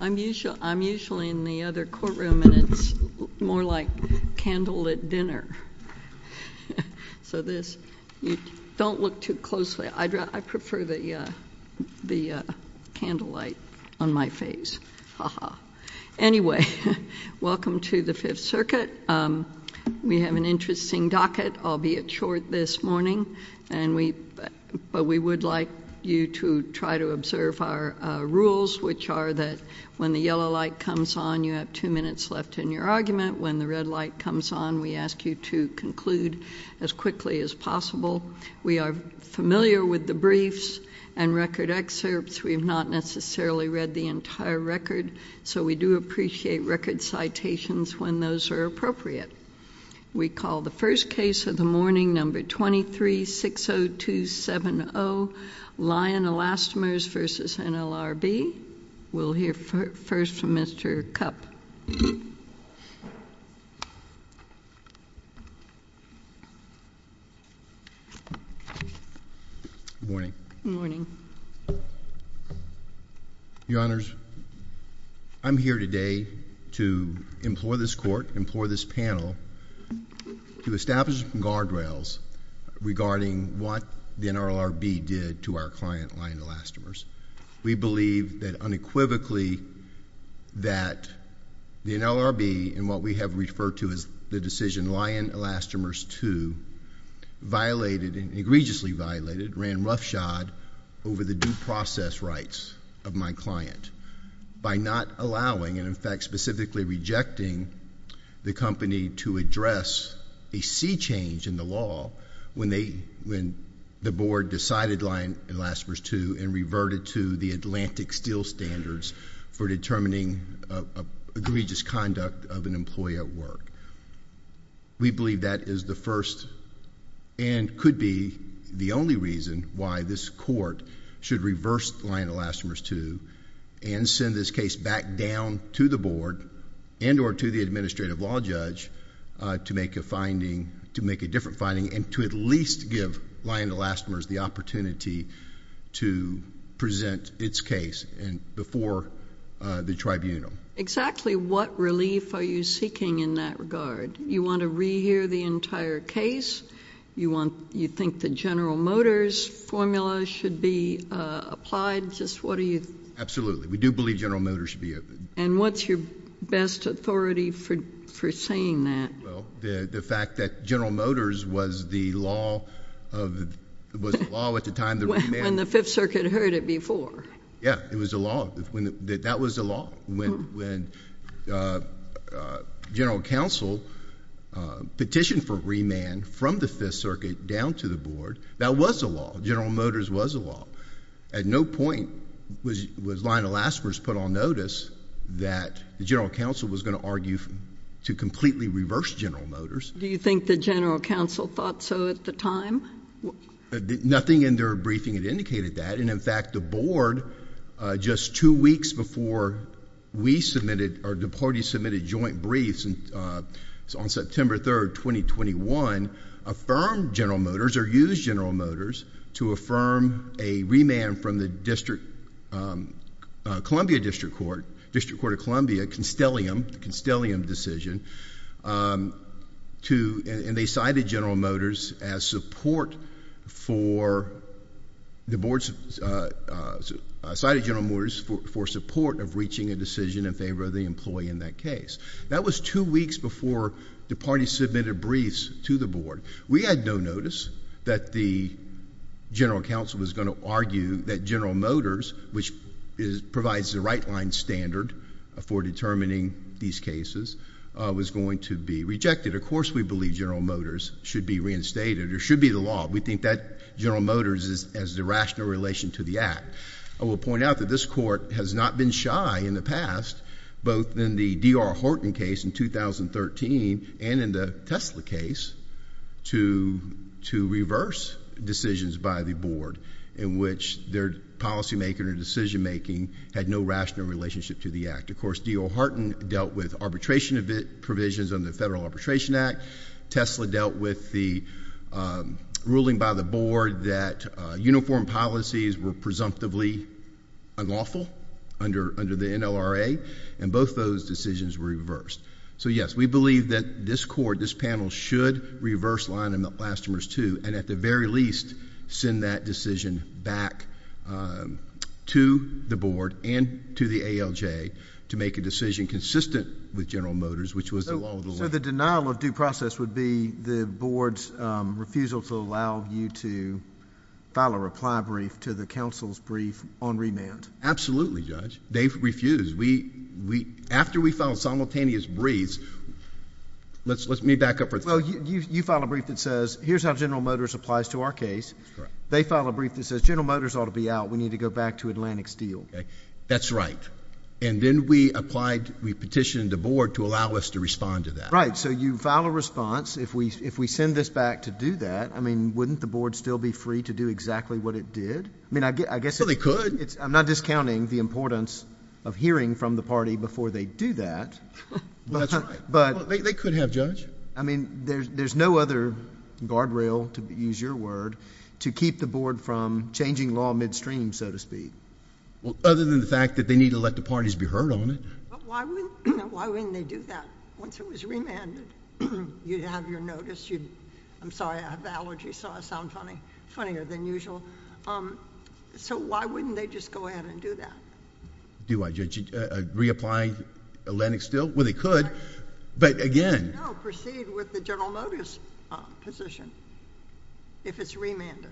I'm usually in the other courtroom and it's more like candlelit dinner so this you don't look too closely I prefer the the candlelight on my face haha anyway welcome to the Fifth Circuit we have an interesting docket albeit short this observe our rules which are that when the yellow light comes on you have two minutes left in your argument when the red light comes on we ask you to conclude as quickly as possible we are familiar with the briefs and record excerpts we've not necessarily read the entire record so we do appreciate record citations when those are appropriate we call the first case of the morning number 2360270 Lyon Elastomers v. NLRB we'll hear first from Mr. Kupp morning your honors I'm here today to implore this court implore this panel to regarding what the NLRB did to our client Lyon Elastomers we believe that unequivocally that the NLRB and what we have referred to as the decision Lyon Elastomers to violated and egregiously violated ran roughshod over the due process rights of my client by not allowing and in fact specifically rejecting the company to address a sea change in the law when they when the board decided Lyon Elastomers to and reverted to the Atlantic Steel standards for determining egregious conduct of an employee at work we believe that is the first and could be the only reason why this court should reverse Lyon Elastomers to and send this case back down to the board and or to the administrative law judge to make a finding to make a different finding and to at least give Lyon Elastomers the opportunity to present its case and before the tribunal exactly what relief are you seeking in that regard you want to rehear the entire case you want you think the General Motors formula should be applied just what are you absolutely we do believe General Motors should be open and what's your best authority for for saying that the fact that General Motors was the law of the law at the time the fifth circuit heard it before yeah it was a law when that was a law when when General Counsel petitioned for remand from the Fifth Circuit down to the board that was a law General Motors was a law at no point was was Lyon Elastomers put on notice that the General Counsel was going to argue to completely reverse General Motors do you think the General Counsel thought so at the time nothing in their briefing it indicated that and in fact the board just two weeks before we submitted or the party submitted joint briefs and on September 3rd 2021 affirmed General Motors to affirm a remand from the District Columbia District Court District Court of Columbia Constellium Constellium decision to and they cited General Motors as support for the boards cited General Motors for support of reaching a decision in favor of the employee in that case that was two weeks before the party submitted briefs to the board we had no notice that the General Counsel was going to argue that General Motors which is provides the right line standard for determining these cases was going to be rejected of course we believe General Motors should be reinstated or should be the law we think that General Motors is as the rational relation to the act I will point out that this court has not been shy in the past both in the DR Horton case in 2013 and in the Tesla case to to reverse decisions by the board in which their policymaker and decision-making had no rational relationship to the act of course do Horton dealt with arbitration of it provisions on the Federal Arbitration Act Tesla dealt with the ruling by the board that uniform policies were presumptively unlawful under under the NLRA and both those decisions were reversed so yes we believe that this court this panel should reverse line in the blasphemous to and at the very least send that decision back to the board and to the ALJ to make a decision consistent with General Motors which was the law the denial of due process would be the board's refusal to allow you to file a reply brief to the council's brief on simultaneous breeze let's let me back up for you you file a brief that says here's how General Motors applies to our case they file a brief that says General Motors ought to be out we need to go back to Atlantic Steel that's right and then we applied we petitioned the board to allow us to respond to that right so you file a response if we if we send this back to do that I mean wouldn't the board still be free to do exactly what it did I mean I guess they could it's I'm not discounting the importance of hearing from the party before they do that but they could have judge I mean there's there's no other guardrail to use your word to keep the board from changing law midstream so to speak well other than the fact that they need to let the parties be heard on it I'm sorry I have allergy so I sound funny funnier than usual so why wouldn't they just go Atlantic Steel well they could but again proceed with the General Motors position if it's remanded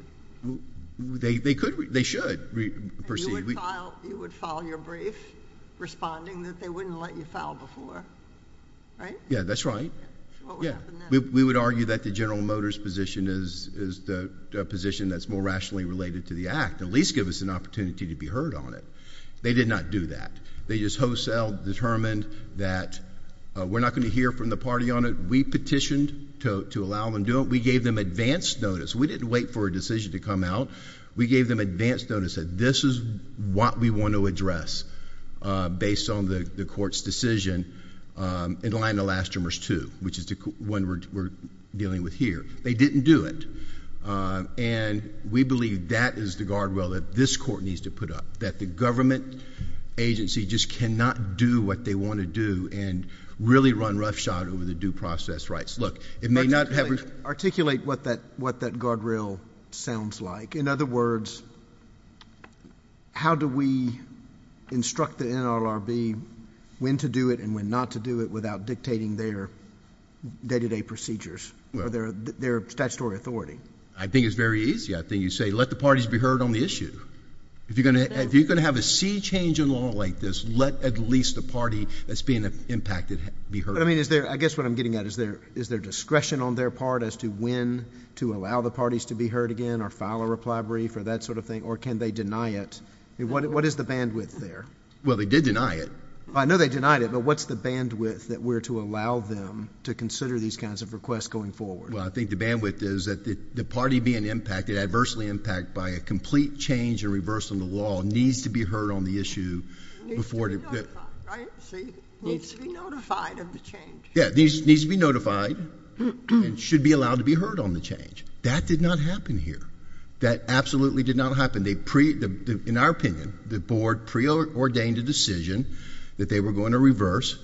they could they should proceed we would follow your brief responding that they wouldn't let you file before right yeah that's right yeah we would argue that the General Motors position is the position that's more rationally related to the act at least give us an opportunity to be heard on it they did not do that they just wholesale determined that we're not going to hear from the party on it we petitioned to allow them do it we gave them advanced notice we didn't wait for a decision to come out we gave them advanced notice that this is what we want to address based on the court's decision in line the last rumors to which is the one we're dealing with here they didn't do it and we believe that is the guardrail that this court needs to put up that the government agency just cannot do what they want to do and really run roughshod over the due process rights look it may not have articulate what that what that guardrail sounds like in other words how do we instruct the NLRB when to do it and when not to do it without dictating their day to day procedures or their their statutory authority I think it's very easy I think you say let the parties be heard on the issue if you're gonna if you're gonna have a sea change in law like this let at least a party that's being impacted be heard I mean is there I guess what I'm getting at is there is their discretion on their part as to when to allow the parties to be heard again or file a reply brief or that sort of thing or can they deny it what is the bandwidth there well they did deny it I know they denied it but what's the bandwidth that we're to allow them to consider these kinds of requests going forward well I think the bandwidth is that the party being impacted adversely impact by a complete change and reversal of the law needs to be heard on the issue before these needs to be notified and should be allowed to be heard on the change that did not happen here that absolutely did not happen they pre the in our opinion the board pre-ordained a decision that they were going to reverse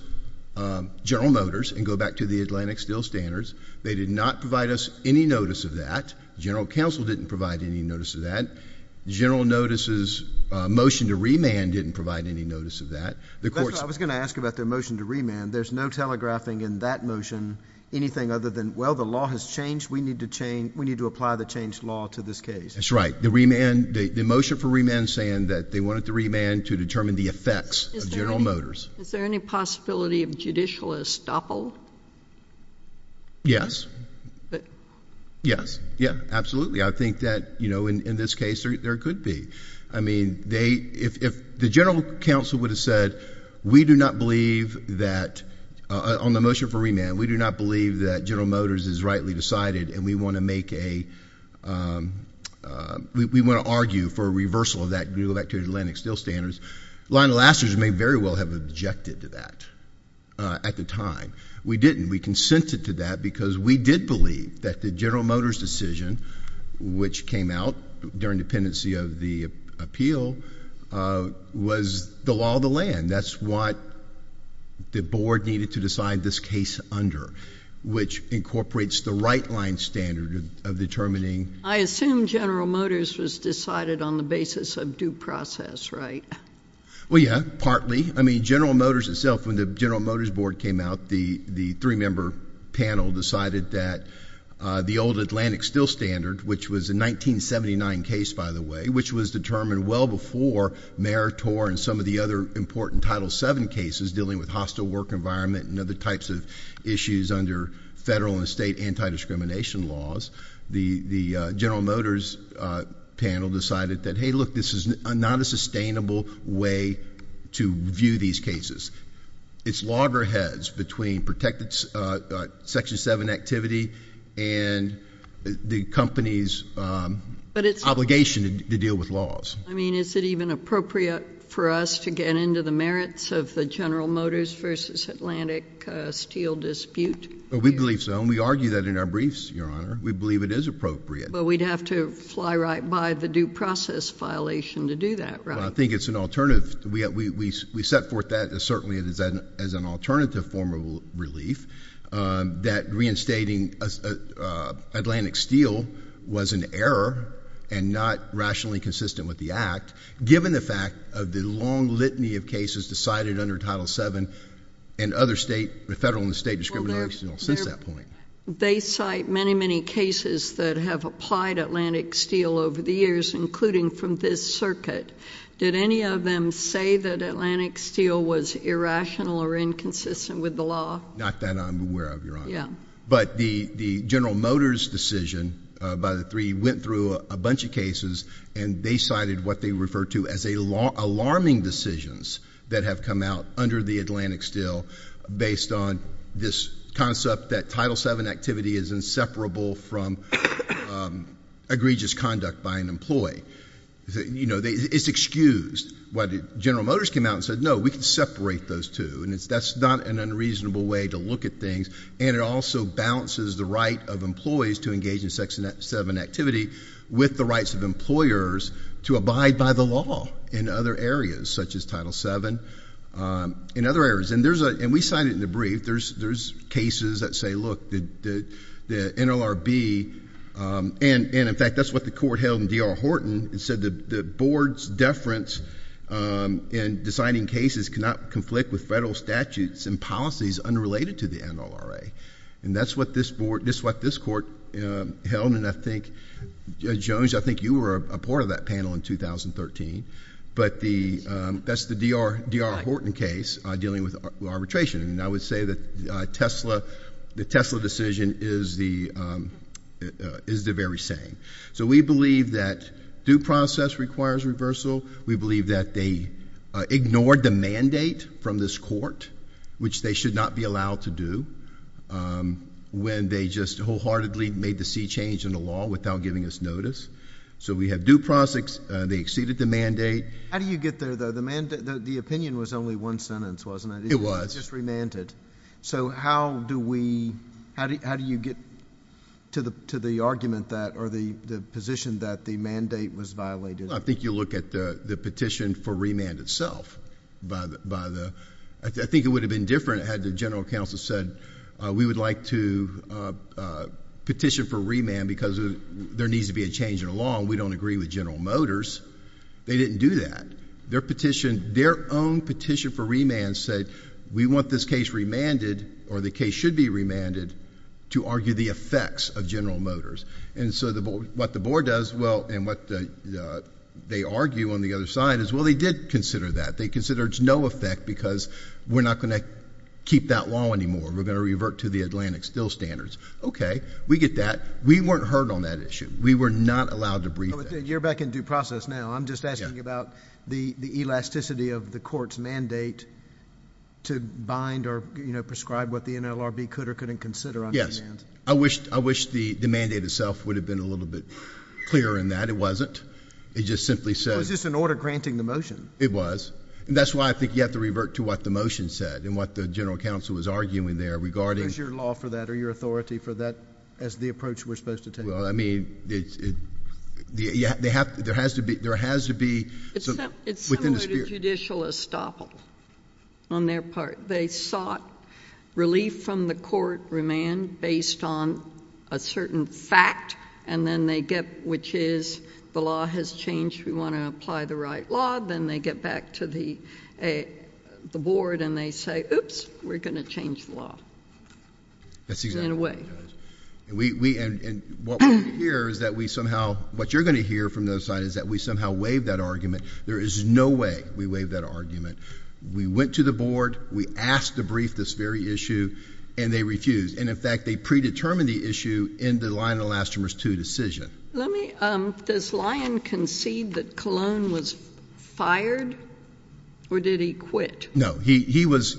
general motors and go back to the Atlantic still standards they did not provide us any notice of that general counsel didn't provide any notice of that general notices motion to remand didn't provide any notice of that the course I was going to ask about their motion to remand there's no telegraphing in that motion anything other than well the law has changed we need to change we need to apply the change law to this case that's right the remand the motion for remand saying that they wanted to remand to determine the judicial estoppel yes yes yeah absolutely I think that you know in this case there could be I mean they if the general counsel would have said we do not believe that on the motion for remand we do not believe that general motors is rightly decided and we want to make a we want to argue for a reversal of that new back to the Atlantic still standards line of lasters may very well have objected to that at the time we didn't we consented to that because we did believe that the general motors decision which came out during dependency of the appeal was the law of the land that's what the board needed to decide this case under which incorporates the right line standard of determining I assume general motors was decided on the basis of due process right well yeah partly I mean General Motors itself when the General Motors board came out the the three-member panel decided that the old Atlantic still standard which was in 1979 case by the way which was determined well before Mayor Tor and some of the other important title 7 cases dealing with hostile work environment and other types of issues under federal and state anti-discrimination laws the the General Motors panel decided that hey look this is not a sustainable way to view these cases it's loggerheads between protected section 7 activity and the company's but it's obligation to deal with laws I mean is it even appropriate for us to get into the merits of the General Motors versus Atlantic steel dispute but we believe so and we argue that in our briefs your honor we believe it is appropriate but we'd have to fly right by the due process violation to do that right I think it's an alternative we have we set forth that as certainly it is an as an alternative form of relief that reinstating Atlantic steel was an error and not rationally consistent with the act given the fact of the long litany of cases decided under title 7 and other state the federal and state discrimination since that point they cite many many cases that have applied Atlantic steel over the years including from this circuit did any of them say that Atlantic steel was irrational or inconsistent with the law not that I'm aware of your honor yeah but the the General Motors decision by the three went through a bunch of cases and they cited what they refer to as a law alarming decisions that have come out under the Atlantic still based on this concept that title 7 activity is inseparable from egregious conduct by an employee you know they it's excused what did General Motors came out and said no we can separate those two and it's that's not an unreasonable way to look at things and it also balances the right of employees to engage in sex and that seven activity with the rights of in other areas and there's a and we signed it in the brief there's there's cases that say look the NLRB and in fact that's what the court held in D.R. Horton and said that the board's deference in deciding cases cannot conflict with federal statutes and policies unrelated to the NLRA and that's what this board this what this court held and I think Jones I think you were a part of that panel in 2013 but the that's the D.R. D.R. Horton case dealing with arbitration and I would say that Tesla the Tesla decision is the is the very same so we believe that due process requires reversal we believe that they ignored the mandate from this court which they should not be allowed to do when they just wholeheartedly made the C change in the law without giving us notice so we have due process they exceeded the mandate how do you get there though the mandate the opinion was only one sentence wasn't it it was just remanded so how do we how do you get to the to the argument that or the the position that the mandate was violated I think you look at the the petition for remand itself but by the I think it would have been different had the general counsel said we would like to petition for remand because there needs to be a change in law and we don't agree with General Motors they didn't do that their petition their own petition for remand said we want this case remanded or the case should be remanded to argue the effects of General Motors and so the board what the board does well and what they argue on the other side is well they did consider that they considered no effect because we're not going to keep that law anymore we're going to revert to the Atlantic still standards okay we get that we weren't heard on that issue we were not allowed to breathe you're back in due process now I'm just asking about the the elasticity of the court's mandate to bind or you know prescribe what the NLRB could or couldn't consider on yes I wish I wish the the mandate itself would have been a little bit clearer in that it wasn't it just simply said it's just an order granting the motion it was and that's why I think you have to revert to what the motion said and what the general counsel was arguing there regarding your law for that or your authority for that as the approach we're supposed to take well I mean it's it yeah they have there has to be there has to be it's a judicial estoppel on their part they sought relief from the court remand based on a certain fact and then they get which is the law has changed we want to apply the right law then they get back to the a the board and they say oops we're gonna change the law that's in a way and we and what I'm here is that we somehow what you're gonna hear from those side is that we somehow waive that argument there is no way we waive that argument we went to the board we asked to brief this very issue and they refused and in fact they predetermine the issue in the line elastomers to decision let me um this was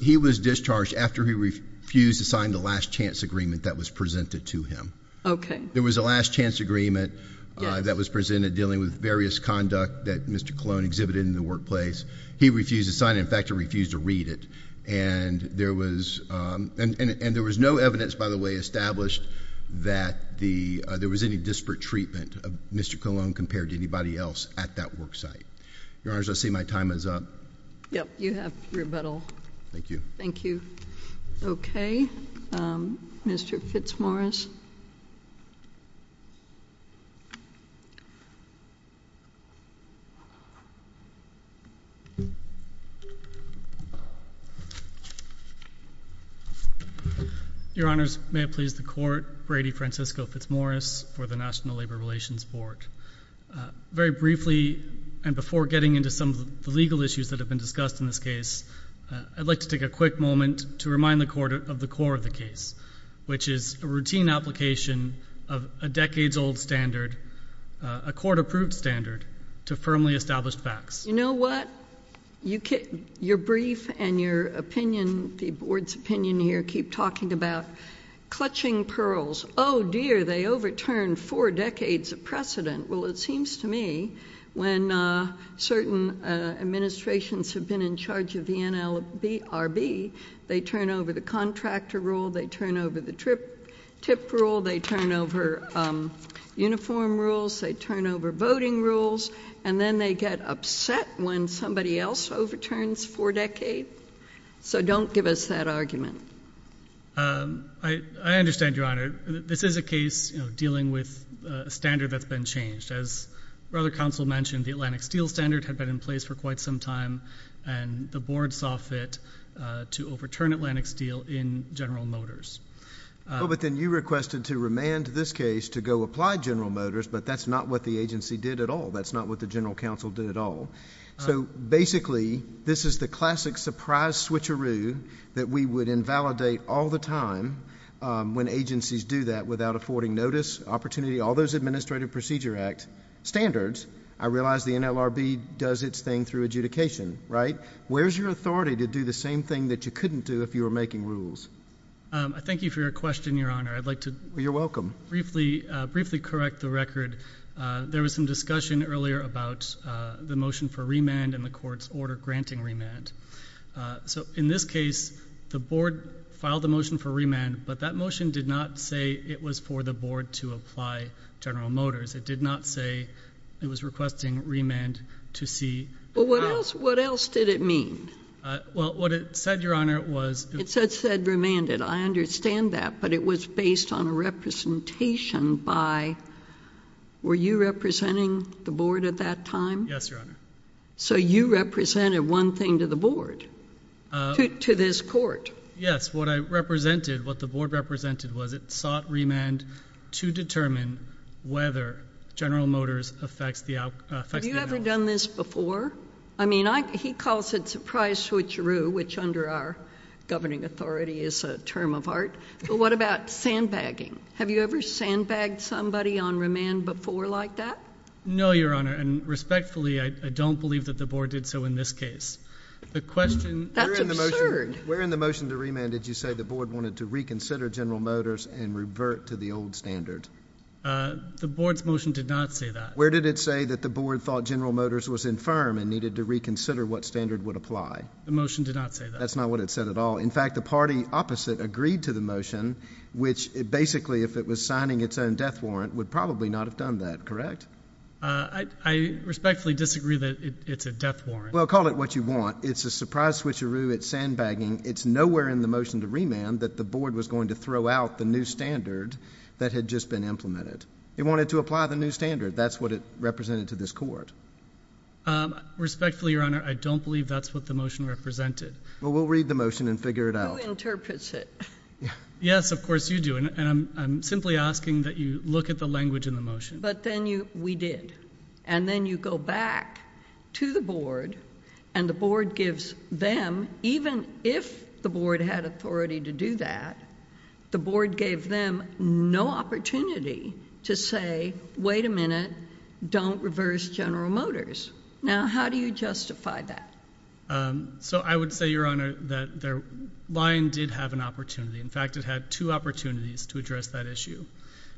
he was discharged after he refused to sign the last-chance agreement that was presented to him okay there was a last-chance agreement that was presented dealing with various conduct that mr. clone exhibited in the workplace he refused to sign in fact he refused to read it and there was and there was no evidence by the way established that the there was any disparate treatment of mr. Cologne compared to anybody else at that worksite your honors I see my time is up yep you have your battle thank you thank you okay mr. Fitzmorris your honors may it please the court Brady Francisco Fitzmorris for the National Labor Relations Board very briefly and before getting into some of the legal issues that have been discussed in this case I'd like to take a quick moment to remind the court of the core of the case which is a routine application of a decades-old standard a court-approved standard to firmly established facts you know what you get your brief and your opinion the board's opinion here keep talking about clutching pearls oh dear they overturned decades of precedent well it seems to me when certain administrations have been in charge of the NLB RB they turn over the contractor rule they turn over the trip tip rule they turn over uniform rules they turn over voting rules and then they get upset when somebody else overturns for decade so don't give us that argument I understand your honor this is a case dealing with a standard that's been changed as brother counsel mentioned the Atlantic Steel standard had been in place for quite some time and the board saw fit to overturn Atlantic Steel in General Motors well but then you requested to remand this case to go apply General Motors but that's not what the agency did at all that's not what the general counsel did at all so basically this is the classic surprise switcheroo that we would invalidate all the time when agencies do that without affording notice opportunity all those Administrative Procedure Act standards I realize the NLRB does its thing through adjudication right where's your authority to do the same thing that you couldn't do if you were making rules I thank you for your question your honor I'd like to you're welcome briefly briefly correct the record there was some discussion earlier about the motion for remand and the court's order granting remand so in this case the board filed a motion for remand but that motion did not say it was for the board to apply General Motors it did not say it was requesting remand to see but what else what else did it mean well what it said your honor it was it said said remanded I understand that but it was based on a representation by were you representing the board at that time yes your honor so you represented one thing to the board to this court yes what I represented what the board represented was it sought remand to determine whether General Motors affects the out you ever done this before I mean I he calls it surprise switcheroo which under our governing authority is a term of art but what about sandbagging have you ever sandbagged somebody on remand before like that no your honor and respectfully I don't believe that the board did so in this case the question where in the motion to remand did you say the board wanted to reconsider General Motors and revert to the old standard the board's motion did not say that where did it say that the board thought General Motors was infirm and needed to reconsider what standard would apply the motion did not say that's not what it said at all in fact the party opposite agreed to the motion which basically if it was signing its own death warrant would probably not have done that correct I respectfully disagree that it's a death warrant well call it what you want it's a surprise switcheroo it's sandbagging it's nowhere in the motion to remand that the board was going to throw out the new standard that had just been implemented they wanted to apply the new standard that's what it represented to this court respectfully your honor I don't believe that's what the motion represented well we'll read the motion and figure it out yes of course you do and I'm simply asking that you look at the language in the motion but then you we did and then you go back to the board and the board gives them even if the board had authority to do that the board gave them no opportunity to say wait a minute don't reverse General Motors now how do you justify that so I would say your honor that their line did have an opportunity in fact it had two opportunities to address that issue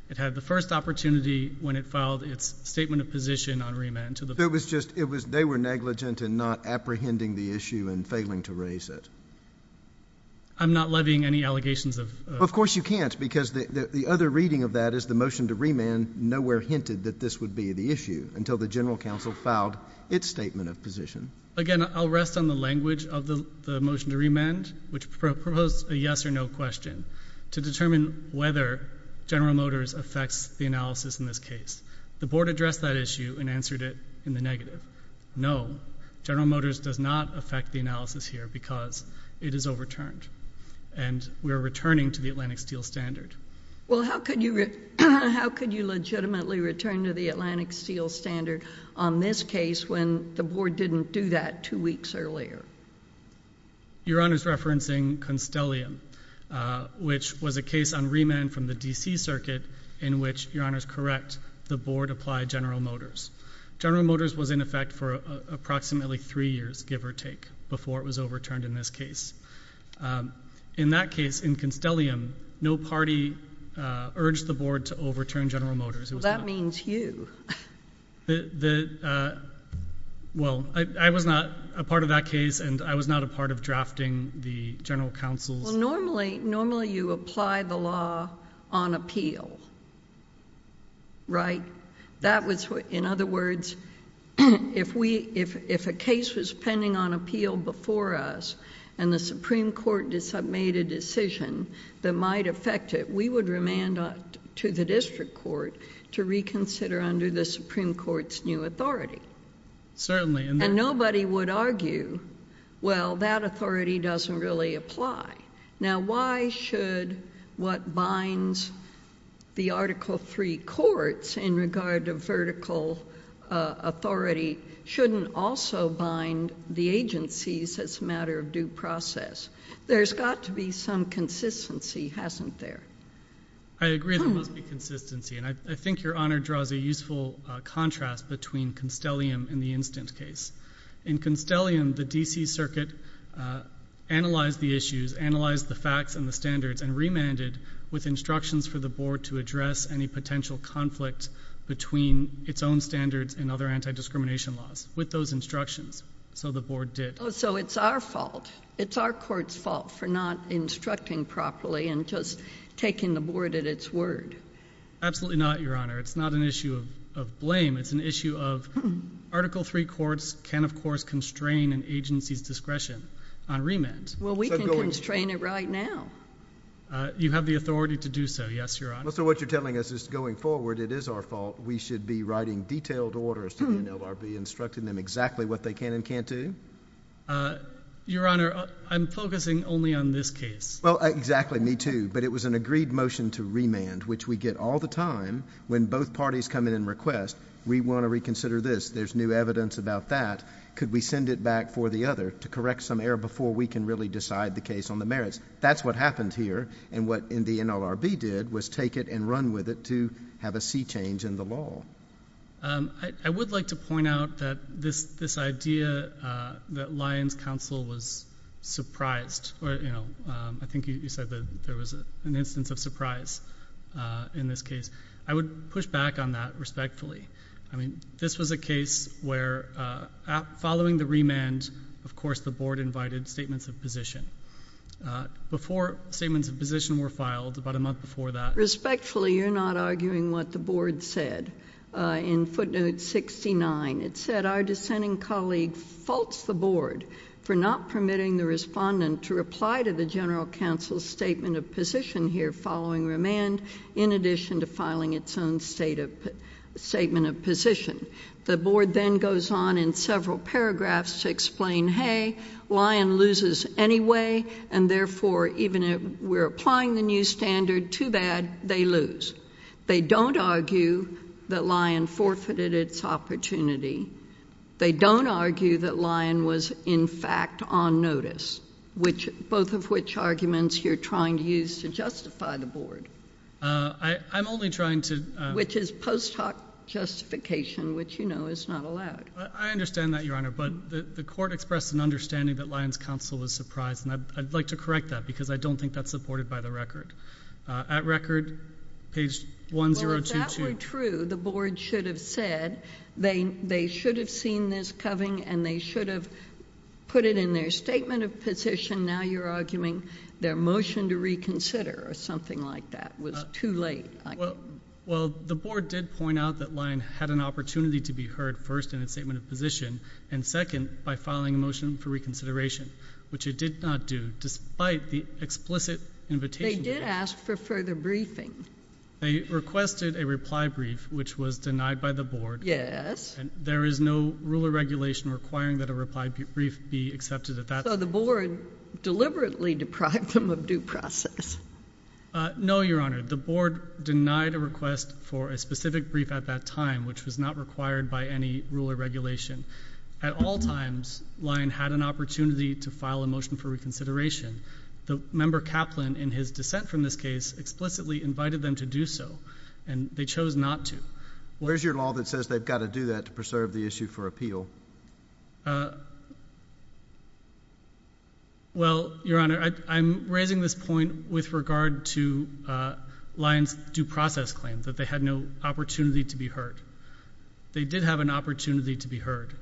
it had the first opportunity when it filed its statement of position on remand to the there was just it was they were negligent and not apprehending the issue and failing to raise it I'm not levying any allegations of of course you can't because the other reading of that is the motion to remand nowhere hinted that this would be the issue until the General Counsel filed its statement of position again I'll rest on the language of the motion to remand which proposed a yes or no question to determine whether General Motors affects the analysis in this case the board addressed that issue and answered it in the negative no General Motors does not affect the analysis here because it is overturned and we are returning to the Atlantic Steel Standard well how could you how could you legitimately return to the board didn't do that two weeks earlier your honor's referencing Constellium which was a case on remand from the DC Circuit in which your honor's correct the board applied General Motors General Motors was in effect for approximately three years give or take before it was overturned in this case in that case in Constellium no party urged the board to overturn General Motors that means you the well I was not a part of that case and I was not a part of drafting the General Counsel's normally normally you apply the law on appeal right that was what in other words if we if if a case was pending on appeal before us and the Supreme Court does have made a decision that might affect it we would remand to the district court to reconsider under the Supreme Court's new authority certainly and nobody would argue well that authority doesn't really apply now why should what binds the article three courts in regard to vertical authority shouldn't also bind the agencies as a matter of due process there's got to be some consistency hasn't there I agree that must be consistency and I think your honor draws a useful contrast between Constellium in the instant case in Constellium the DC Circuit analyze the issues analyze the facts and the standards and remanded with instructions for the board to address any potential conflict between its own standards and other anti-discrimination laws with those instructions so the board did so it's our fault it's our courts fault for not instructing properly and just taking the board at its word absolutely not your honor it's not an issue of blame it's an issue of article three courts can of course constrain an agency's discretion on remand well we can constrain it right now you have the authority to do so yes your honor so what you're telling us is going forward it is our fault we should be writing detailed orders to the NORB instructing them exactly what they can and can't do your honor I'm focusing only on this case well exactly me too but it was an agreed motion to remand which we get all the time when both parties come in and request we want to reconsider this there's new evidence about that could we send it back for the other to correct some error before we can really decide the case on the merits that's what happened here and what in the NLRB did was take it and run with it to have a sea change in the law I would like to surprised I think you said that there was an instance of surprise in this case I would push back on that respectfully I mean this was a case where following the remand of course the board invited statements of position before statements of position were filed about a month before that respectfully you're not arguing what the board said in footnote 69 it said our dissenting colleague faults the board for not permitting the respondent to reply to the general counsel statement of position here following remand in addition to filing its own state of statement of position the board then goes on in several paragraphs to explain hey lion loses anyway and therefore even if we're applying the new standard too bad they lose they don't argue that lion forfeited its opportunity they don't argue that lion was in fact on notice which both of which arguments you're trying to use to justify the board I I'm only trying to which is post hoc justification which you know is not allowed I understand that your honor but the court expressed an understanding that lions counsel was surprised and I'd like to correct that because I don't think that's supported by the record at record page 1022 true the board should have said they they should have seen this coming and they should have put it in their statement of position now you're arguing their motion to reconsider or something like that was too late well well the board did point out that line had an opportunity to be heard first in a statement of position and second by filing a motion for further briefing they requested a reply brief which was denied by the board yes there is no ruler regulation requiring that a reply brief be accepted at that so the board deliberately deprived them of due process no your honor the board denied a request for a specific brief at that time which was not required by any rule or regulation at all times lion had an opportunity to file a motion for his dissent from this case explicitly invited them to do so and they chose not to where's your law that says they've got to do that to preserve the issue for appeal well your honor I'm raising this point with regard to lines due process claims that they had no opportunity to be heard they did have an opportunity to be heard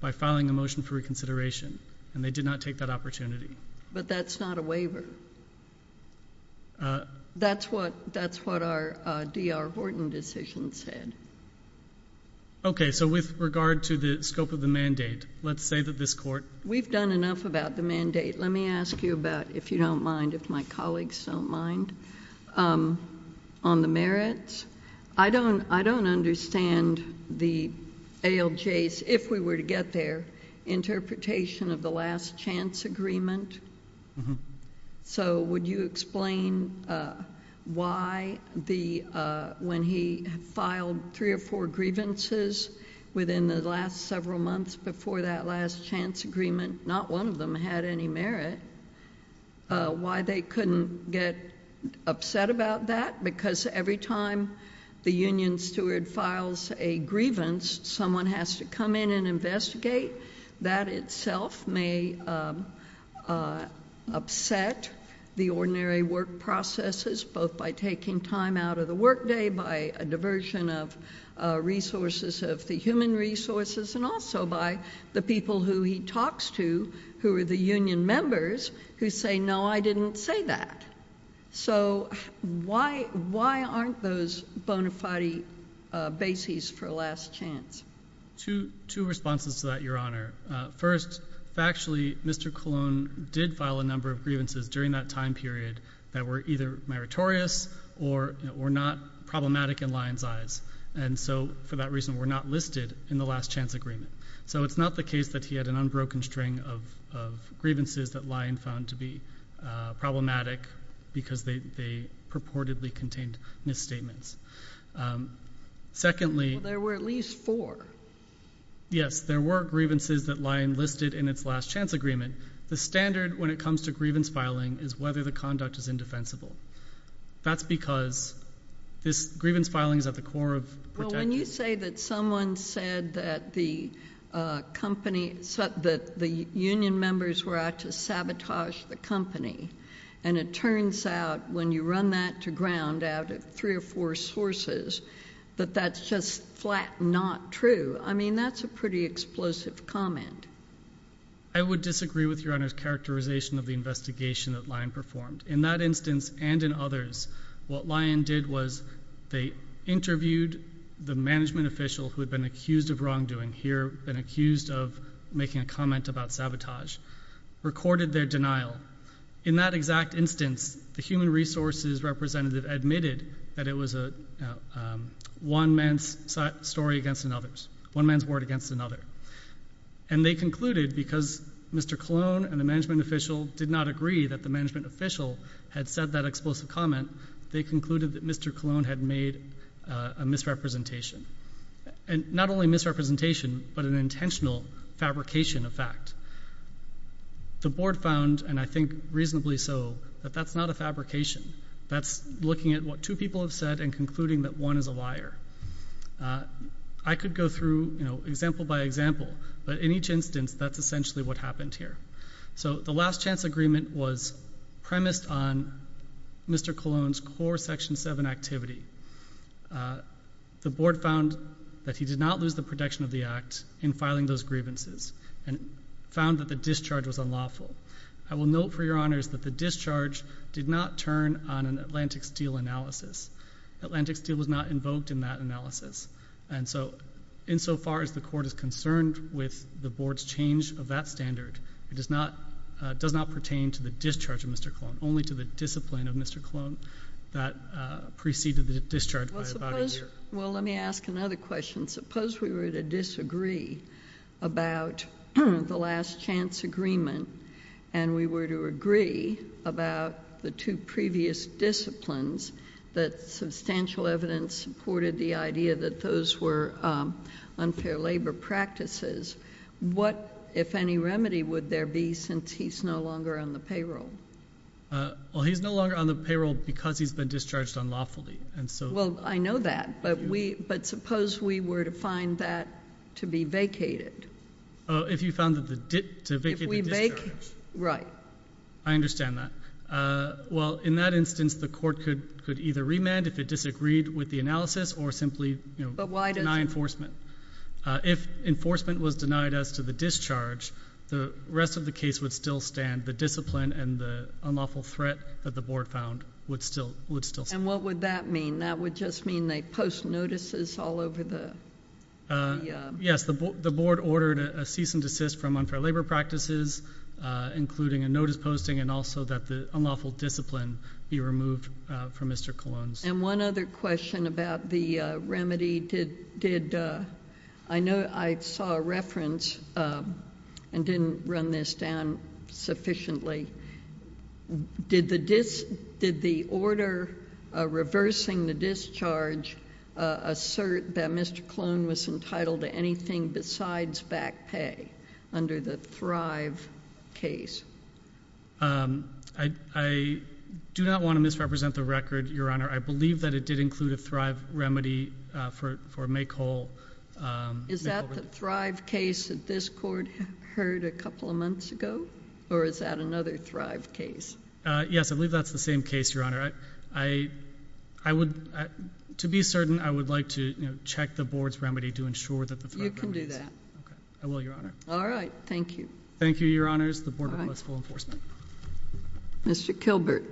by filing a motion for reconsideration and they did not take that opportunity but that's not a waiver that's what that's what our DR Horton decision said okay so with regard to the scope of the mandate let's say that this court we've done enough about the mandate let me ask you about if you don't mind if my colleagues don't mind on the merits I don't I don't understand the ALJ's if we were to get their interpretation of the last chance agreement so would you explain why the when he filed three or four grievances within the last several months before that last chance agreement not one of them had any merit why they couldn't get upset about that because every time the grievance someone has to come in and investigate that itself may upset the ordinary work processes both by taking time out of the workday by a diversion of resources of the human resources and also by the people who he talks to who are the union members who say no I didn't say that so why why aren't those bona fide bases for last chance to two responses to that your honor first actually mr. Cologne did file a number of grievances during that time period that were either meritorious or were not problematic in lion's eyes and so for that reason we're not listed in the last chance agreement so it's not the case that he had an unbroken string of grievances that lion found to be problematic because they purportedly contained misstatements secondly there were at least four yes there were grievances that lion listed in its last chance agreement the standard when it comes to grievance filing is whether the conduct is indefensible that's because this grievance filings at the core of when you say that someone said that the company said that the union members were to sabotage the company and it turns out when you run that to ground out of three or four sources but that's just flat not true I mean that's a pretty explosive comment I would disagree with your honors characterization of the investigation that lion performed in that instance and in others what lion did was they interviewed the management official who had been accused of sabotage recorded their denial in that exact instance the human resources representative admitted that it was a one man's story against another's one man's word against another and they concluded because mr. cologne and the management official did not agree that the management official had said that explosive comment they concluded that mr. cologne had made a misrepresentation and not only misrepresentation but an intentional fabrication of fact the board found and I think reasonably so but that's not a fabrication that's looking at what two people have said and concluding that one is a liar I could go through you know example by example but in each instance that's essentially what happened here so the last chance agreement was premised on mr. cologne's section 7 activity the board found that he did not lose the protection of the act in filing those grievances and found that the discharge was unlawful I will note for your honors that the discharge did not turn on an Atlantic Steel analysis Atlantic Steel was not invoked in that analysis and so insofar as the court is concerned with the board's change of that standard it does not does not pertain to the discharge of mr. clone only to the discipline of mr. clone that preceded the discharge well let me ask another question suppose we were to disagree about the last chance agreement and we were to agree about the two previous disciplines that substantial evidence supported the idea that those were unfair labor practices what if any remedy would there be since he's no longer on the payroll well he's no longer on the payroll because he's been discharged unlawfully and so well I know that but we but suppose we were to find that to be vacated if you found that the did we make right I understand that well in that instance the court could could either remand if it disagreed with the analysis or simply but why did I enforcement if enforcement was denied us to the discharge the rest of the case would still stand the discipline and the unlawful threat that the board found would still would still and what would that mean that would just mean they post notices all over the yes the board ordered a cease and desist from unfair labor practices including a notice posting and also that the unlawful discipline be removed from mr. clones and one other question about the remedy did did I know I saw a reference and didn't run this down sufficiently did the disk did the order reversing the discharge assert that mr. clone was entitled to anything besides back pay under the Thrive case I do not want to misrepresent the record your honor I believe that it did include a Thrive remedy for for make whole is that the Thrive case that this court heard a couple of months ago or is that another Thrive case yes I believe that's the same case your honor I I would to be certain I would like to check the board's remedy to ensure that the all right thank you thank you your honor's the board was full enforcement mr. Kilbert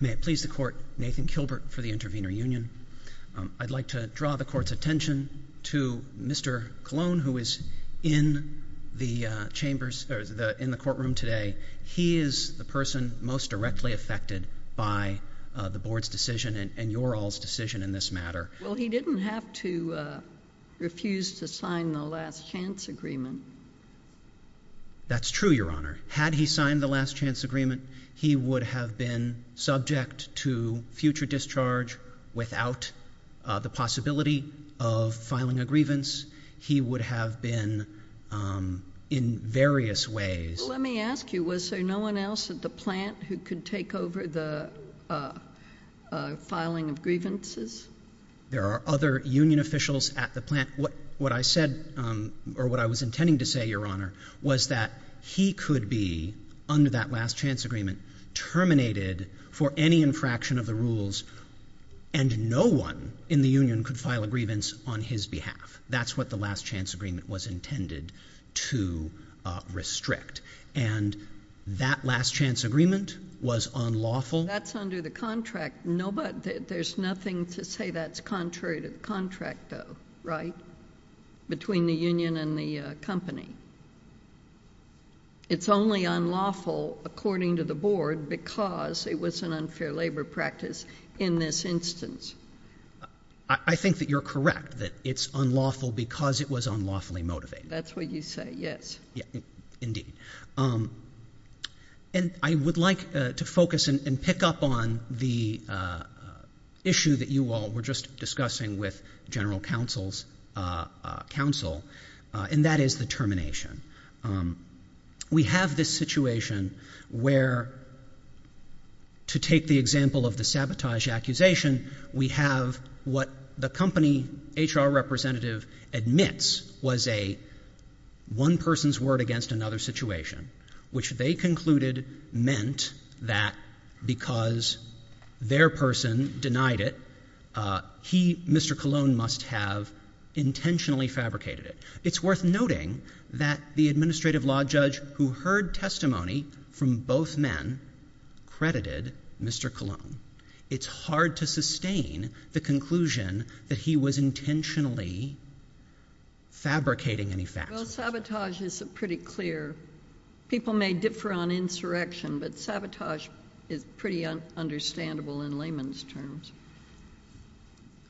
may it please the court Nathan Kilbert for the intervener Union I'd like to draw the court's attention to mr. cologne who is in the chambers or the in the person most directly affected by the board's decision and your all's decision in this matter well he didn't have to refuse to sign the last-chance agreement that's true your honor had he signed the last-chance agreement he would have been subject to future discharge without the possibility of filing a grievance he would have been in various ways let me ask you was there no one else at the plant who could take over the filing of grievances there are other Union officials at the plant what what I said or what I was intending to say your honor was that he could be under that last-chance agreement terminated for any infraction of the rules and no one in the Union could file a grievance on his behalf that's what the last-chance agreement was intended to restrict and that last-chance agreement was unlawful that's under the contract nobody there's nothing to say that's contrary to the contract though right between the Union and the company it's only unlawful according to the board because it was an unlawful because it was unlawfully motivated that's what you say yes and I would like to focus and pick up on the issue that you all were just discussing with general counsel's counsel and that is the termination we have this situation where to take the example of the sabotage accusation we have what the representative admits was a one person's word against another situation which they concluded meant that because their person denied it he Mr. Cologne must have intentionally fabricated it it's worth noting that the administrative law judge who heard testimony from both men credited Mr. Cologne it's hard to fabricating any fact sabotage is a pretty clear people may differ on insurrection but sabotage is pretty understandable in layman's terms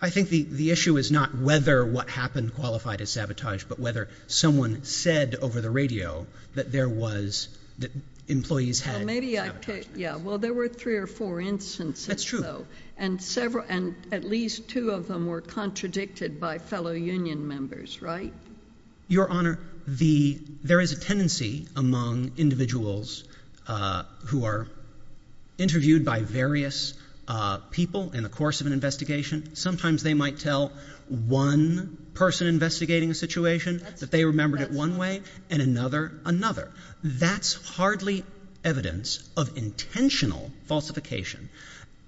I think the the issue is not whether what happened qualified as sabotage but whether someone said over the radio that there was that employees had maybe I could yeah well there were three or four instances true though and several and at least two of them were contradicted by fellow union members right your honor the there is a tendency among individuals who are interviewed by various people in the course of an investigation sometimes they might tell one person investigating a situation that they remembered it one way and another another that's hardly evidence of intentional falsification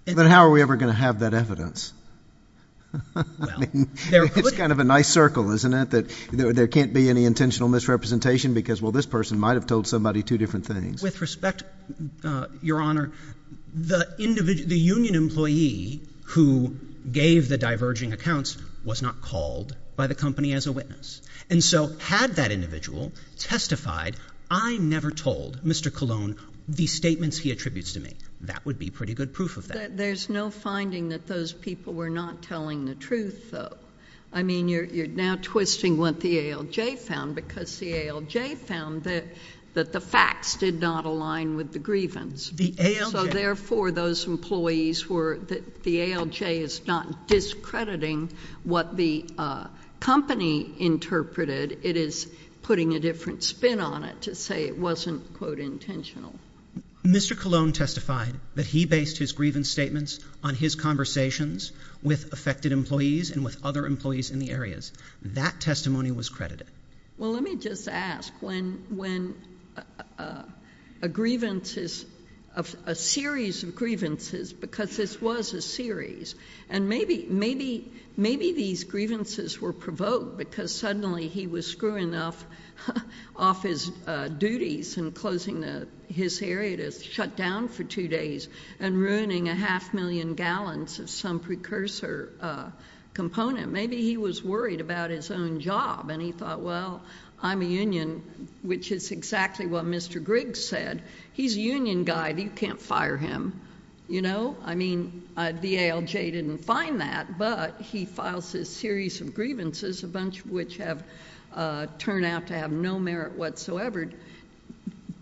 but how are we ever going to have that evidence it's kind of a nice circle isn't it that there can't be any intentional misrepresentation because well this person might have told somebody two different things with respect your honor the individual the union employee who gave the diverging accounts was not called by the company as a witness and so had that individual testified I never told Mr. Cologne these statements he attributes to me that would be pretty good proof of that there's no finding that those people were not telling the truth though I mean you're now twisting what the ALJ found because the ALJ found that that the facts did not align with the grievance so therefore those employees were that the ALJ is not discrediting what the company interpreted it is putting a different spin on it to say it wasn't quote his grievance statements on his conversations with affected employees and with other employees in the areas that testimony was credited well let me just ask when when a grievance is of a series of grievances because this was a series and maybe maybe maybe these grievances were provoked because suddenly he was screwing off off his duties and closing the his area to shut down for two days and ruining a half million gallons of some precursor component maybe he was worried about his own job and he thought well I'm a union which is exactly what mr. Griggs said he's a union guy you can't fire him you know I mean the ALJ didn't find that but he files this series of grievances a bunch of which have turned out to have no merit whatsoever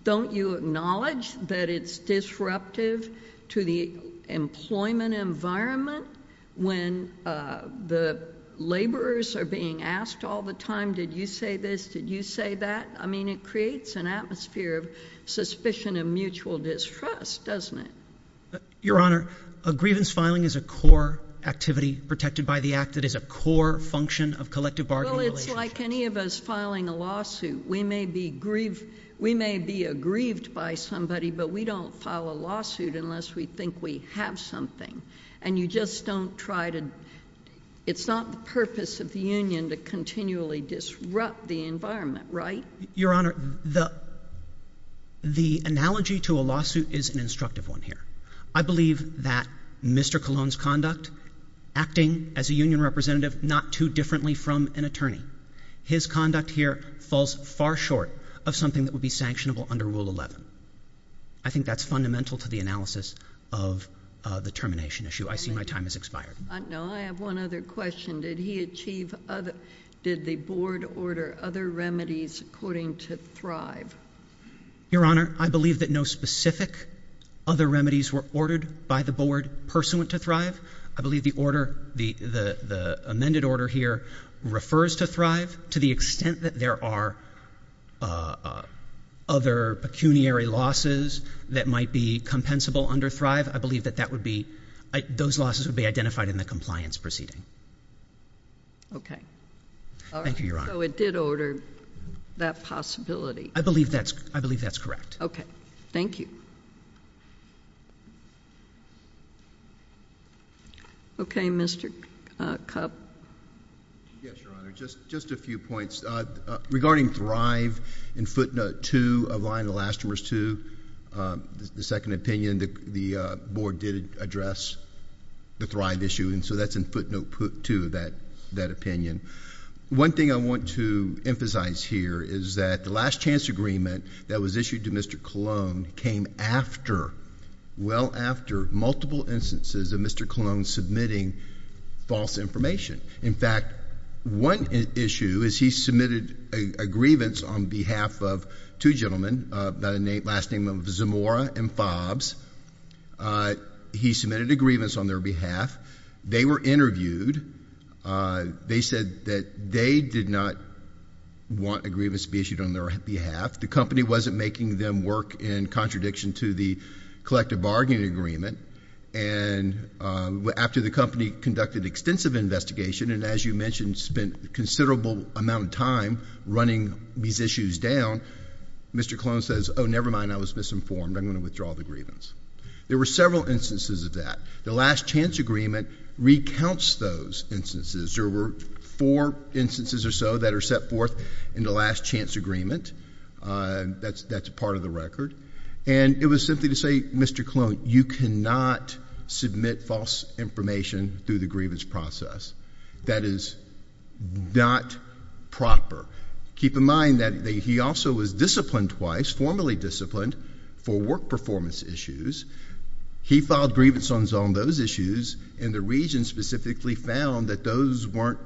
don't you acknowledge that it's disruptive to the employment environment when the laborers are being asked all the time did you say this did you say that I mean it creates an atmosphere of suspicion of mutual distrust doesn't it your honor a grievance filing is a core activity protected by the act that is a core function of collective bargaining like any of us filing a lawsuit we may be aggrieved by somebody but we don't file a lawsuit unless we think we have something and you just don't try to it's not the purpose of the Union to continually disrupt the environment right your honor the the analogy to a lawsuit is an instructive one here I believe that mr. Cologne's conduct acting as a union representative not too differently from an attorney his conduct here falls far short of something that would be sanctionable under rule 11 I think that's fundamental to the analysis of the termination issue I see my time has expired no I have one other question did he achieve other did the board order other remedies according to thrive your honor I believe that no specific other remedies were ordered by the board pursuant to thrive I believe the order the amended order here refers to thrive to the extent that there are other pecuniary losses that might be compensable under thrive I believe that that would be those losses would be identified in the compliance proceeding okay thank you your honor it did order that possibility I believe that's I thank you okay mr. cup just just a few points regarding thrive and footnote to align the last verse to the second opinion that the board did address the thrive issue and so that's in footnote put to that that opinion one thing I want to emphasize here is that the last chance agreement that was issued to mr. Cologne came after well after multiple instances of mr. Cologne submitting false information in fact one issue is he submitted a grievance on behalf of two gentlemen by the name last name of Zamora and fobs he submitted a grievance on their behalf they were interviewed they said that they did not want a them work in contradiction to the collective bargaining agreement and after the company conducted extensive investigation and as you mentioned spent a considerable amount of time running these issues down mr. Cologne says oh never mind I was misinformed I'm going to withdraw the grievance there were several instances of that the last chance agreement recounts those instances there were four instances or so that are set forth in the last chance agreement that's that's part of the record and it was simply to say mr. Cologne you cannot submit false information through the grievance process that is not proper keep in mind that he also was disciplined twice formally disciplined for work performance issues he filed grievance on zone those issues and the region specifically found that those weren't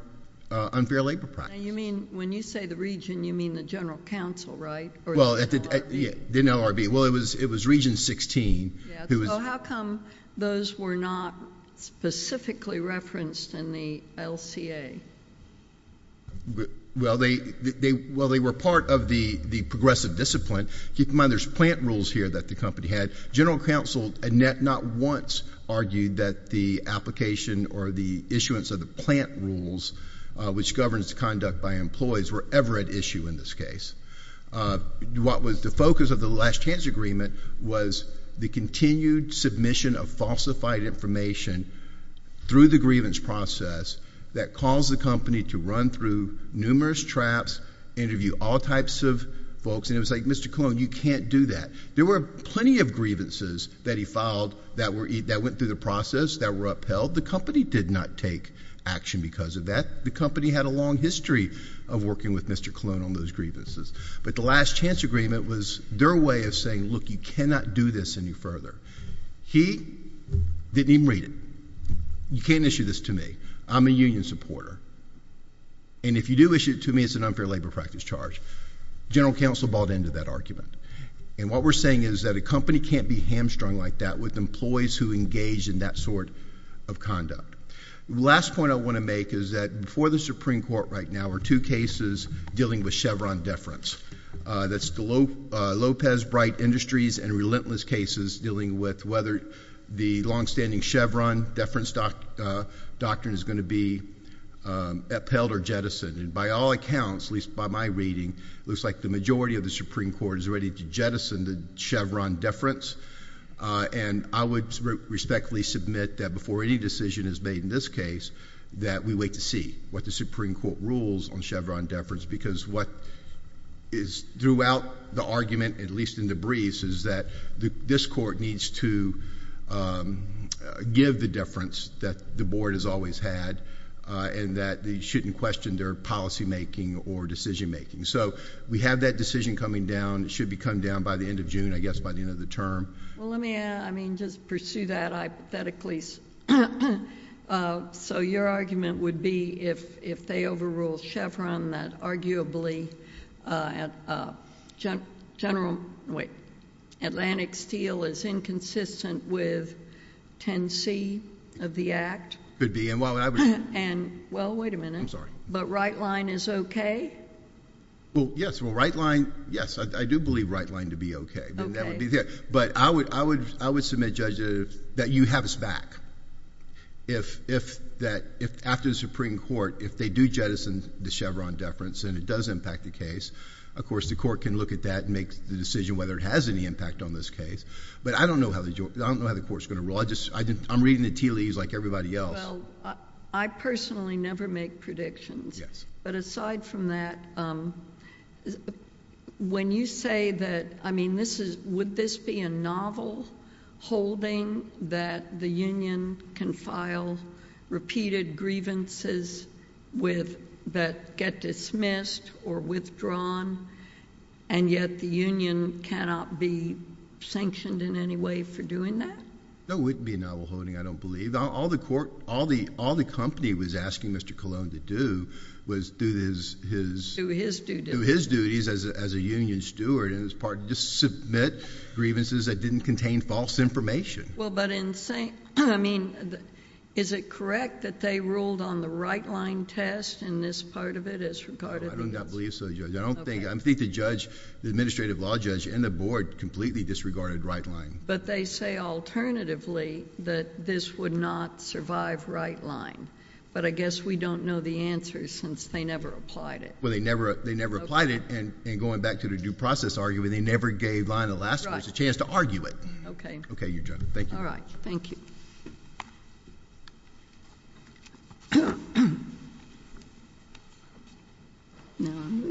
unfair labor practice you mean when you say the region you mean the General Counsel right well at the you know RB well it was it was region 16 who was how come those were not specifically referenced in the LCA well they well they were part of the the progressive discipline keep in mind there's plant rules here that the company had General Counsel Annette not once argued that the which governs conduct by employees were ever at issue in this case what was the focus of the last chance agreement was the continued submission of falsified information through the grievance process that caused the company to run through numerous traps interview all types of folks and it was like mr. Cologne you can't do that there were plenty of grievances that he filed that were eat that went through the process that were upheld the company did not take action because of that the company had a long history of working with mr. Cologne on those grievances but the last chance agreement was their way of saying look you cannot do this any further he didn't even read it you can't issue this to me I'm a union supporter and if you do issue it to me it's an unfair labor practice charge General Counsel bought into that argument and what we're saying is that a company can't be hamstrung like that with employees who engage in that sort of conduct last point I want to make is that before the Supreme Court right now are two cases dealing with Chevron deference that's the low Lopez bright industries and relentless cases dealing with whether the long-standing Chevron deference doc doctrine is going to be upheld or jettisoned and by all accounts least by my reading looks like the majority of the Supreme Court is and I would respectfully submit that before any decision is made in this case that we wait to see what the Supreme Court rules on Chevron deference because what is throughout the argument at least in the breeze is that the this court needs to give the difference that the board has always had and that they shouldn't question their policymaking or decision-making so we have that decision coming down it should be come down by the end of June I guess by the end of the term let me I mean just pursue that I bet at least so your argument would be if if they overrule Chevron that arguably at general weight Atlantic Steel is inconsistent with 10c of the act could be and well I would and well wait a minute I'm sorry but right line is okay well yes well right line yes I do believe right line to be okay but I would I would I would submit judge that you have us back if if that if after the Supreme Court if they do jettison the Chevron deference and it does impact the case of course the court can look at that and make the decision whether it has any impact on this case but I don't know how they don't know how the court's going to rule I just I didn't I'm reading the tea leaves like everybody else I personally never make predictions yes but aside from that when you say that I mean this is would this be a novel holding that the Union can file repeated grievances with that get dismissed or withdrawn and yet the Union cannot be sanctioned in any way for doing that no wouldn't be a novel holding I don't believe all the court was do this his his duties as a union steward and as part to submit grievances that didn't contain false information well but in saying I mean is it correct that they ruled on the right line test and this part of it is regarded I don't believe so I don't think I'm think the judge the administrative law judge and the board completely disregarded right line but they say alternatively that this would not survive right line but I guess we don't know the answer since they never applied it well they never they never applied it and and going back to the due process are you and they never gave line the last chance to argue it okay okay you're done thank you all right thank you